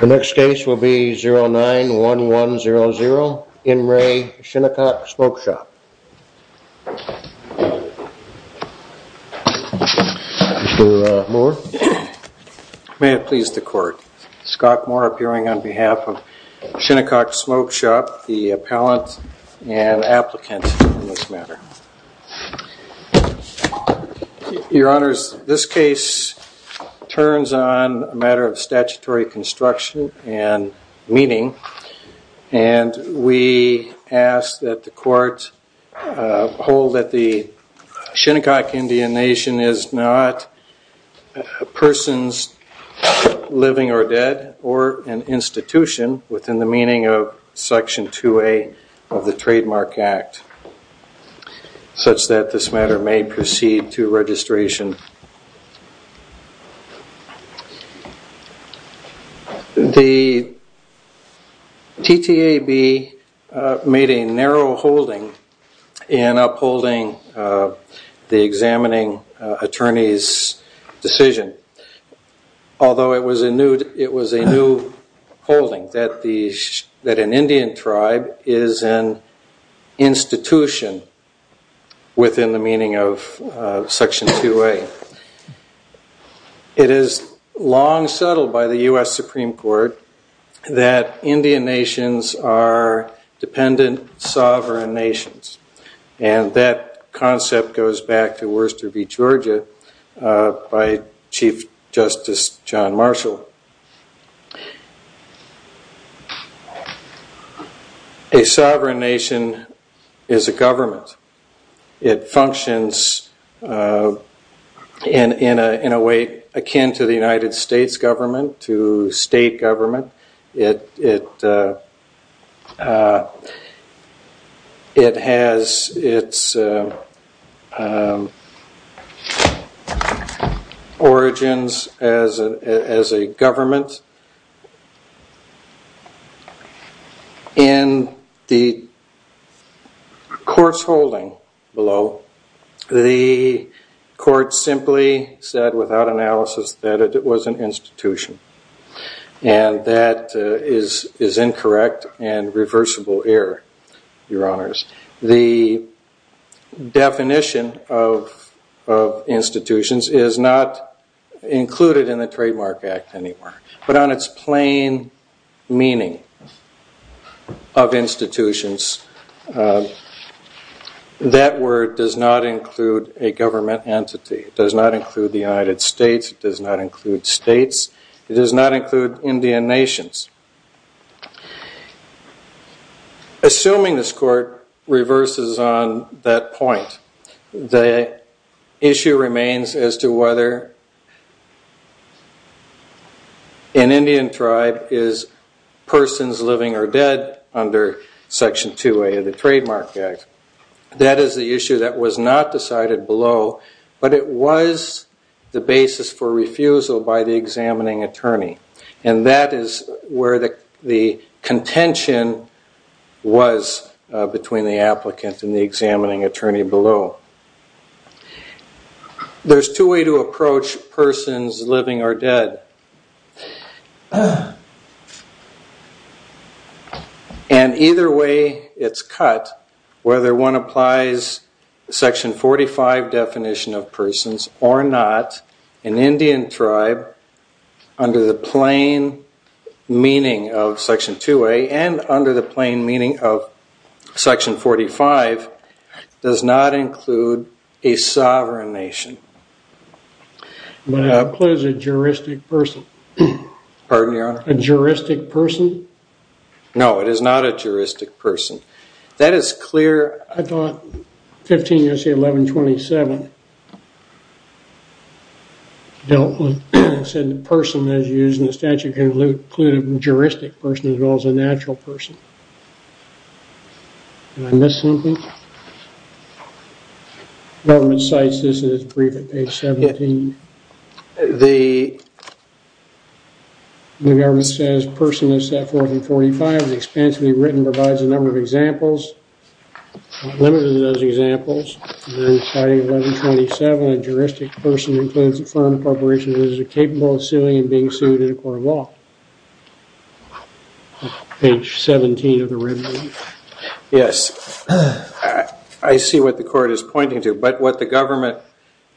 The next case will be 09-1100 In Re Shinnecock Smoke Shop Your Honor, this case turns on a matter of statutory construction and meeting and we ask that the court hold that the Shinnecock Indian Nation is not a person's living or dead or an institution within the meaning of Section 2A of the Trademark Act, such that this matter may proceed to registration. The TTAB made a narrow holding in upholding the examining attorney's decision, although it was a new holding, that an Indian tribe is an institution within the meaning of Section 2A. It is long settled by the U.S. Supreme Court that Indian Nations are dependent sovereign nations and that concept goes back to Worcester v. Georgia by Chief Justice John Marshall. A sovereign nation is a government. It functions in a way akin to the United States government, to state government. It has its origins as a government. In the course holding below, the court simply said without analysis that it was an institution. That is incorrect and reversible error, Your Honors. The definition of institutions is not included in the Trademark Act anymore, but on its plain meaning of institutions, that word does not include a government entity. It does not include the United States. It does not include states. It does not include Indian Nations. Assuming this court reverses on that point, the issue remains as to whether an Indian tribe is persons living or dead under Section 2A of the Trademark Act. That is the issue that was not decided below, but it was the basis for refusal by the examining attorney and that is where the contention was between the applicant and the examining attorney below. There is two ways to approach persons living or dead. And either way it is cut, whether one applies Section 45 definition of persons or not, an Indian tribe under the plain meaning of Section 2A and under the plain meaning of Section 45 does not include a sovereign nation. But it includes a juristic person. Pardon, Your Honor? A juristic person? No, it is not a juristic person. That is clear. Your Honor, I thought 15 U.S.A. 1127 said the person is used in the statute can include a juristic person as well as a natural person. Did I miss something? Government cites this in its brief at page 17. The government says person is set forth in 45, it is expansively written, provides a number of examples, not limited to those examples. And then citing 1127, a juristic person includes a firm corporation that is capable of suing and being sued in a court of law. Page 17 of the red brief. Yes, I see what the court is pointing to. But what the government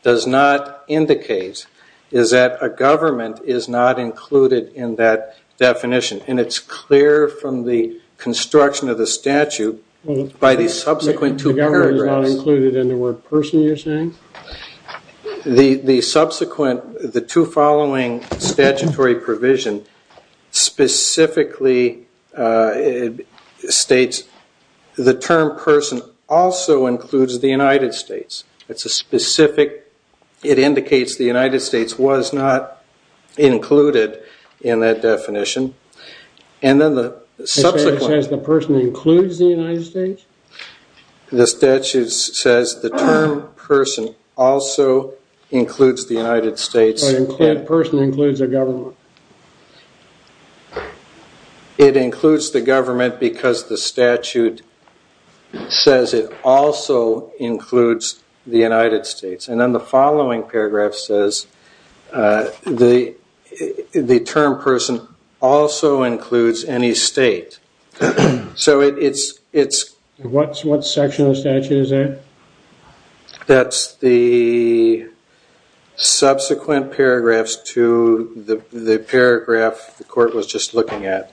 does not indicate is that a government is not included in that definition. And it is clear from the construction of the statute by the subsequent two paragraphs. The government is not included in the word person you are saying? The subsequent, the two following statutory provision specifically states the term person also includes the United States. It is a specific, it indicates the United States was not included in that definition. And then the subsequent... It says the person includes the United States? The statute says the term person also includes the United States. The person includes the government? It includes the government because the statute says it also includes the United States. And then the following paragraph says the term person also includes any state. So it's... What section of the statute is that? That's the subsequent paragraphs to the paragraph the court was just looking at.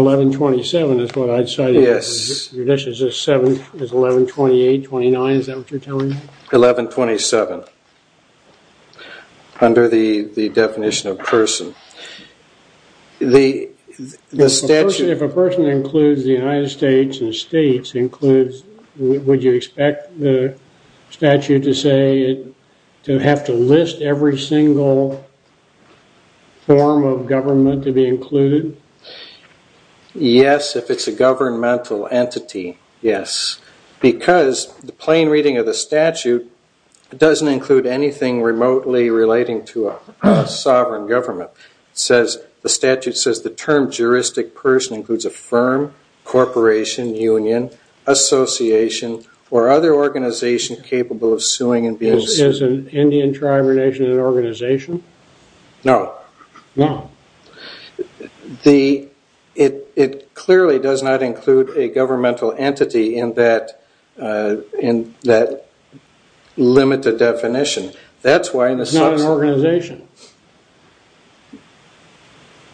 1127 is what I cited. Yes. Judicious is 1128, 1129, is that what you're telling me? 1127. Under the definition of person. The statute... If a person includes the United States and states includes... Would you expect the statute to say, to have to list every single form of government to be included? Yes, if it's a governmental entity, yes. Because the plain reading of the statute doesn't include anything remotely relating to a sovereign government. It says, the statute says the term juristic person includes a firm, corporation, union, association, or other organization capable of suing and being sued. Is an Indian tribe or nation an organization? No. No. The... It clearly does not include a governmental entity in that limited definition. That's why... It's not an organization?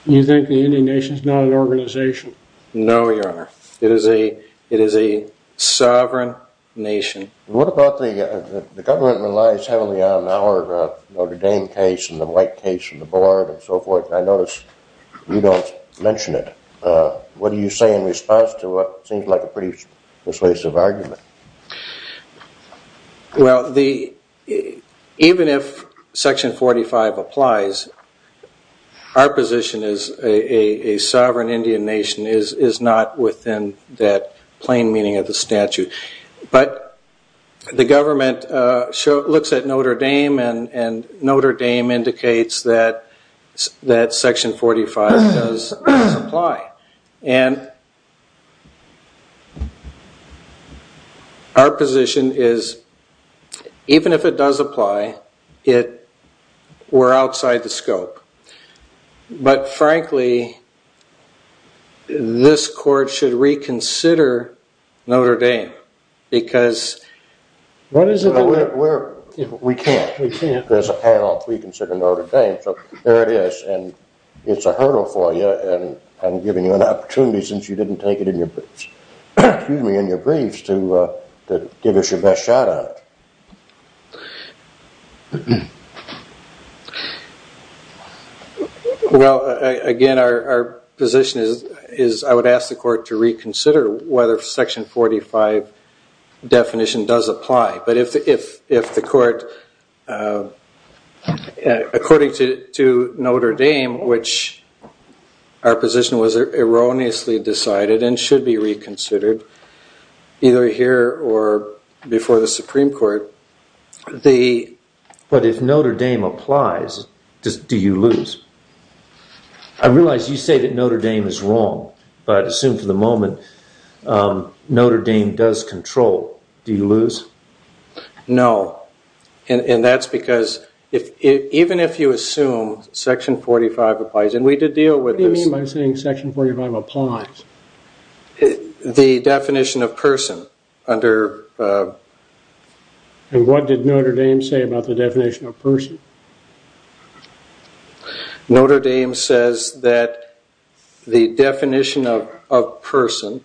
You think the Indian nation is not an organization? No, your honor. It is a sovereign nation. What about the government relies heavily on our Notre Dame case and the White case and the board and so forth. I notice you don't mention it. What do you say in response to what seems like a pretty persuasive argument? Well, the... Even if section 45 applies, our position is a sovereign Indian nation is not within that plain meaning of the statute. But the government looks at Notre Dame and Notre Dame indicates that section 45 does apply. And our position is, even if it does apply, we're outside the scope. But frankly, this court should reconsider Notre Dame. Because... We can't. There's a panel to reconsider Notre Dame. So, there it is. And it's a hurdle for you. And I'm giving you an opportunity since you didn't take it in your briefs to give us your best shot at it. Well, again, our position is I would ask the court to reconsider whether section 45 definition does apply. But if the court, according to Notre Dame, which our position was erroneously decided and should be reconsidered, either here or before the Supreme Court, the... I realize you say that Notre Dame is wrong. But assume for the moment Notre Dame does control. Do you lose? No. And that's because even if you assume section 45 applies, and we did deal with this... What do you mean by saying section 45 applies? The definition of person under... And what did Notre Dame say about the definition of person? Notre Dame says that the definition of person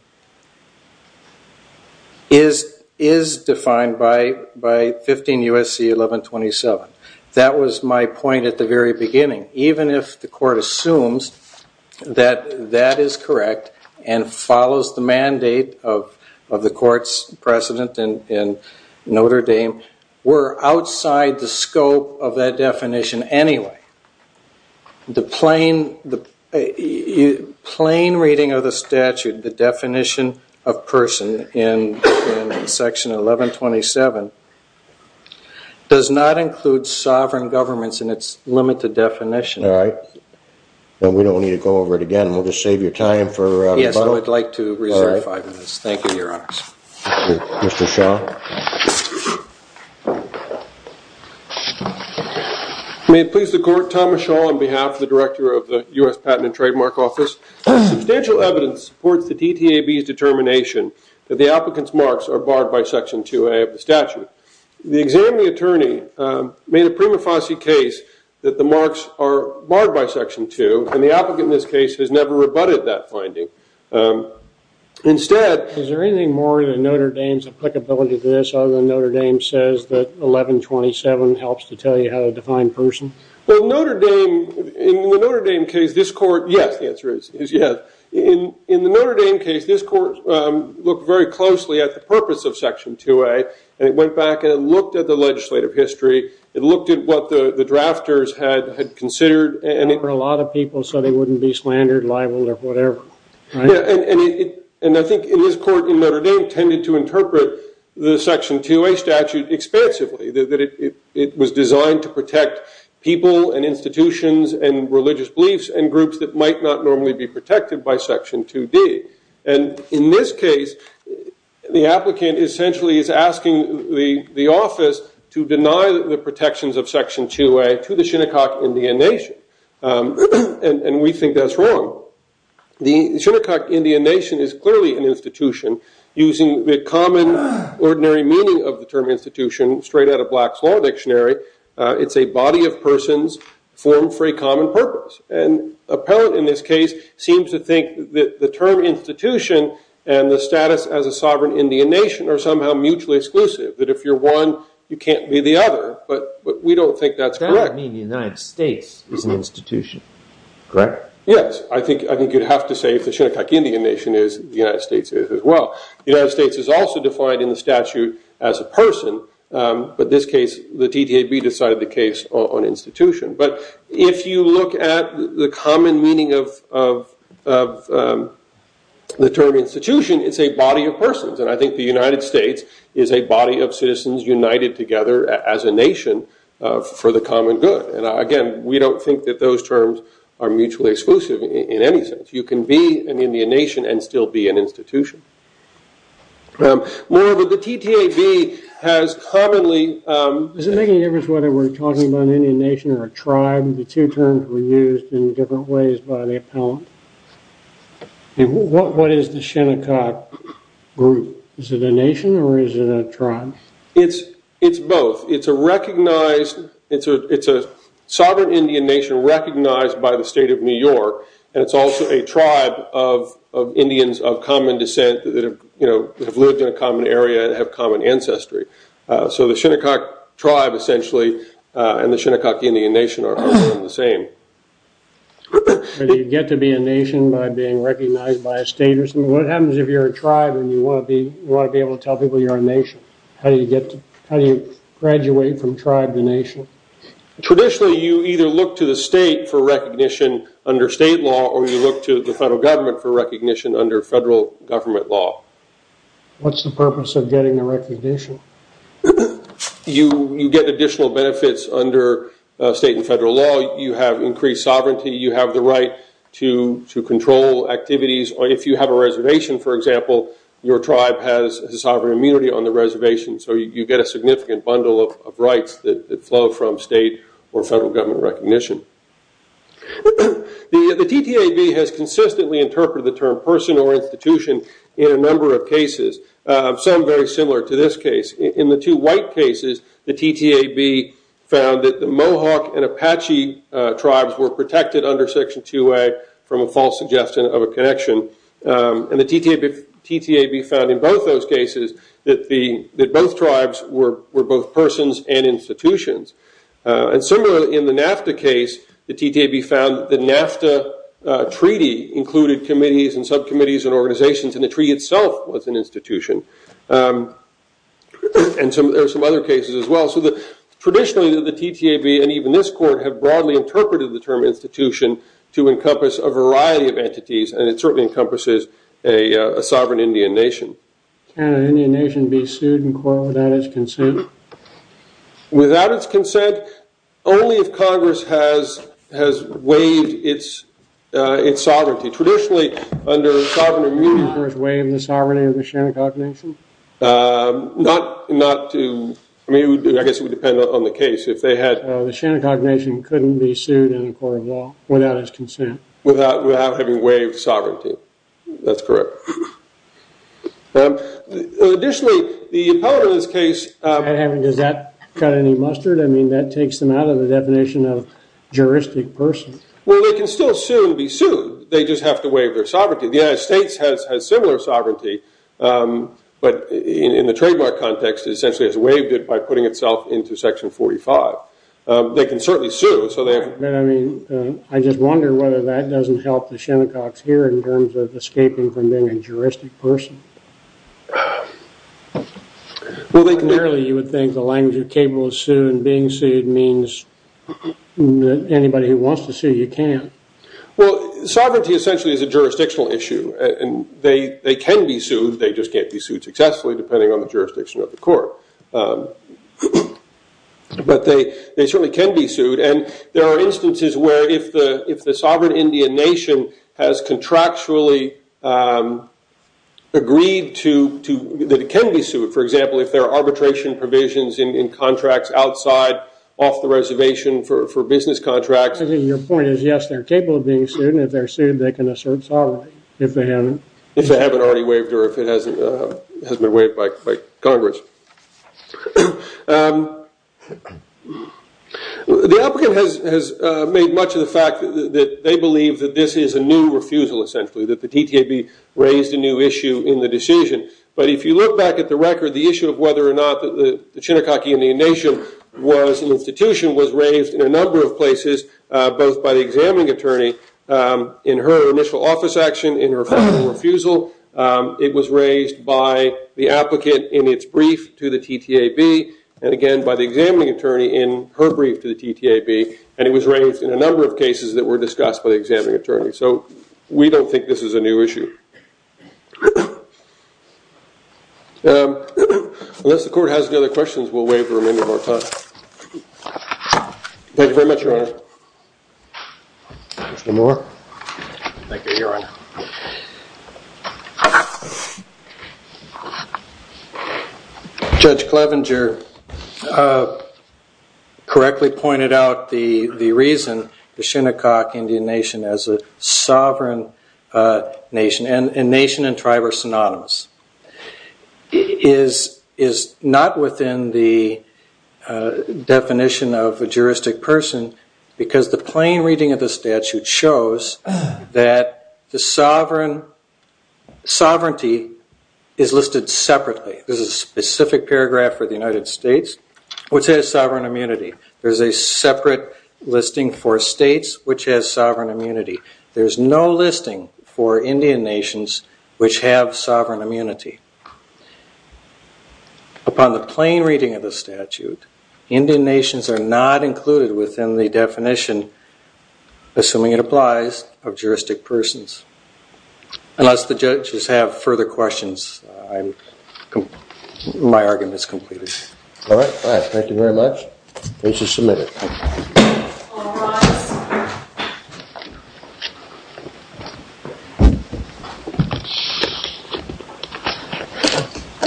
is defined by 15 U.S.C. 1127. That was my point at the very beginning. Even if the court assumes that that is correct and follows the mandate of the court's precedent in Notre Dame, we're outside the scope of that definition anyway. The plain reading of the statute, the definition of person in section 1127, does not include sovereign governments in its limited definition. All right. Well, we don't need to go over it again. We'll just save your time for... Yes, I would like to reserve five minutes. Thank you, Your Honor. Mr. Shaw. May it please the court, Thomas Shaw on behalf of the director of the U.S. Patent and Trademark Office. Substantial evidence supports the DTAB's determination that the applicant's marks are barred by section 2A of the statute. The examining attorney made a prima facie case that the marks are barred by section 2, and the applicant in this case has never rebutted that finding. Instead... Is there anything more to Notre Dame's applicability to this other than Notre Dame says that 1127 helps to tell you how to define person? Well, Notre Dame, in the Notre Dame case, this court... Yes, the answer is yes. In the Notre Dame case, this court looked very closely at the purpose of section 2A, and it went back and it looked at the legislative history. It looked at what the drafters had considered. For a lot of people so they wouldn't be slandered, libeled, or whatever. And I think in this court in Notre Dame tended to interpret the section 2A statute expansively, that it was designed to protect people and institutions and religious beliefs and groups that might not normally be protected by section 2D. And in this case, the applicant essentially is asking the office to deny the protections of section 2A to the Shinnecock Indian Nation. And we think that's wrong. The Shinnecock Indian Nation is clearly an institution. Using the common, ordinary meaning of the term institution straight out of Black's Law Dictionary, it's a body of persons formed for a common purpose. And the appellant in this case seems to think that the term institution and the status as a sovereign Indian nation are somehow mutually exclusive, that if you're one, you can't be the other. But we don't think that's correct. That would mean the United States is an institution, correct? Yes, I think you'd have to say if the Shinnecock Indian Nation is, the United States is as well. The United States is also defined in the statute as a person. But in this case, the DTAB decided the case on institution. But if you look at the common meaning of the term institution, it's a body of persons. And I think the United States is a body of citizens united together as a nation for the common good. And again, we don't think that those terms are mutually exclusive in any sense. You can be an Indian nation and still be an institution. Moreover, the DTAB has commonly- Does it make any difference whether we're talking about an Indian nation or a tribe? The two terms were used in different ways by the appellant. What is the Shinnecock group? Is it a nation or is it a tribe? It's both. It's a recognized- It's a sovereign Indian nation recognized by the state of New York. And it's also a tribe of Indians of common descent that have lived in a common area and have common ancestry. So the Shinnecock tribe, essentially, and the Shinnecock Indian Nation are the same. Do you get to be a nation by being recognized by a state or something? What happens if you're a tribe and you want to be able to tell people you're a nation? How do you graduate from tribe to nation? Traditionally, you either look to the state for recognition under state law or you look to the federal government for recognition under federal government law. What's the purpose of getting the recognition? You get additional benefits under state and federal law. You have increased sovereignty. You have the right to control activities. If you have a reservation, for example, your tribe has a sovereign immunity on the reservation, so you get a significant bundle of rights that flow from state or federal government recognition. The TTAB has consistently interpreted the term person or institution in a number of cases, some very similar to this case. In the two white cases, the TTAB found that the Mohawk and Apache tribes were protected under Section 2A from a false suggestion of a connection. The TTAB found in both those cases that both tribes were both persons and institutions. Similarly, in the NAFTA case, the TTAB found that the NAFTA treaty included committees and subcommittees and organizations, and the treaty itself was an institution. There are some other cases as well. Traditionally, the TTAB and even this court have broadly interpreted the term institution to encompass a variety of entities, and it certainly encompasses a sovereign Indian nation. Can an Indian nation be sued in court without its consent? Without its consent? Only if Congress has waived its sovereignty. Traditionally, under sovereign immunity, Congress waived the sovereignty of the Shenandoah Nation. Not to, I mean, I guess it would depend on the case. The Shenandoah Nation couldn't be sued in a court of law without its consent. Without having waived sovereignty. That's correct. Does that cut any mustard? I mean, that takes them out of the definition of juristic person. Well, they can still soon be sued. They just have to waive their sovereignty. The United States has similar sovereignty, but in the trademark context, it essentially has waived it by putting itself into Section 45. They can certainly sue. I mean, I just wonder whether that doesn't help the Shinnecox here in terms of escaping from being a juristic person. Clearly, you would think the language of cable is sued, and being sued means that anybody who wants to sue, you can't. Well, sovereignty essentially is a jurisdictional issue, and they can be sued. They just can't be sued successfully, depending on the jurisdiction of the court. But they certainly can be sued, and there are instances where if the sovereign Indian nation has contractually agreed that it can be sued. For example, if there are arbitration provisions in contracts outside off the reservation for business contracts. I think your point is, yes, they're capable of being sued, and if they're sued, they can assert sovereignty. If they haven't already waived or if it hasn't been waived by Congress. The applicant has made much of the fact that they believe that this is a new refusal, essentially, that the DTAB raised a new issue in the decision. But if you look back at the record, the issue of whether or not the Shinnecock Indian nation was an institution was raised in a number of places, both by the examining attorney in her initial office action, in her final refusal. It was raised by the applicant in its brief to the DTAB, and again by the examining attorney in her brief to the DTAB. And it was raised in a number of cases that were discussed by the examining attorney. So we don't think this is a new issue. Unless the court has any other questions, we'll waive the remainder of our time. Thank you very much, Your Honor. Judge Clevenger correctly pointed out the reason the Shinnecock Indian nation, as a sovereign nation, and nation and tribe are synonymous, is not within the definition of a juristic person, because the plain reading of the statute shows that the sovereignty is listed separately. There's a specific paragraph for the United States, which has sovereign immunity. There's a separate listing for states, which has sovereign immunity. There's no listing for Indian nations, which have sovereign immunity. Upon the plain reading of the statute, Indian nations are not included within the definition, assuming it applies, of juristic persons. Unless the judges have further questions, my argument is completed. All right. Thank you very much. Case is submitted. Thank you.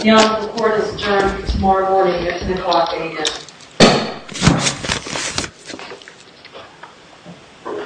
Your Honor, the court has adjourned for tomorrow morning at Shinnecock Indian.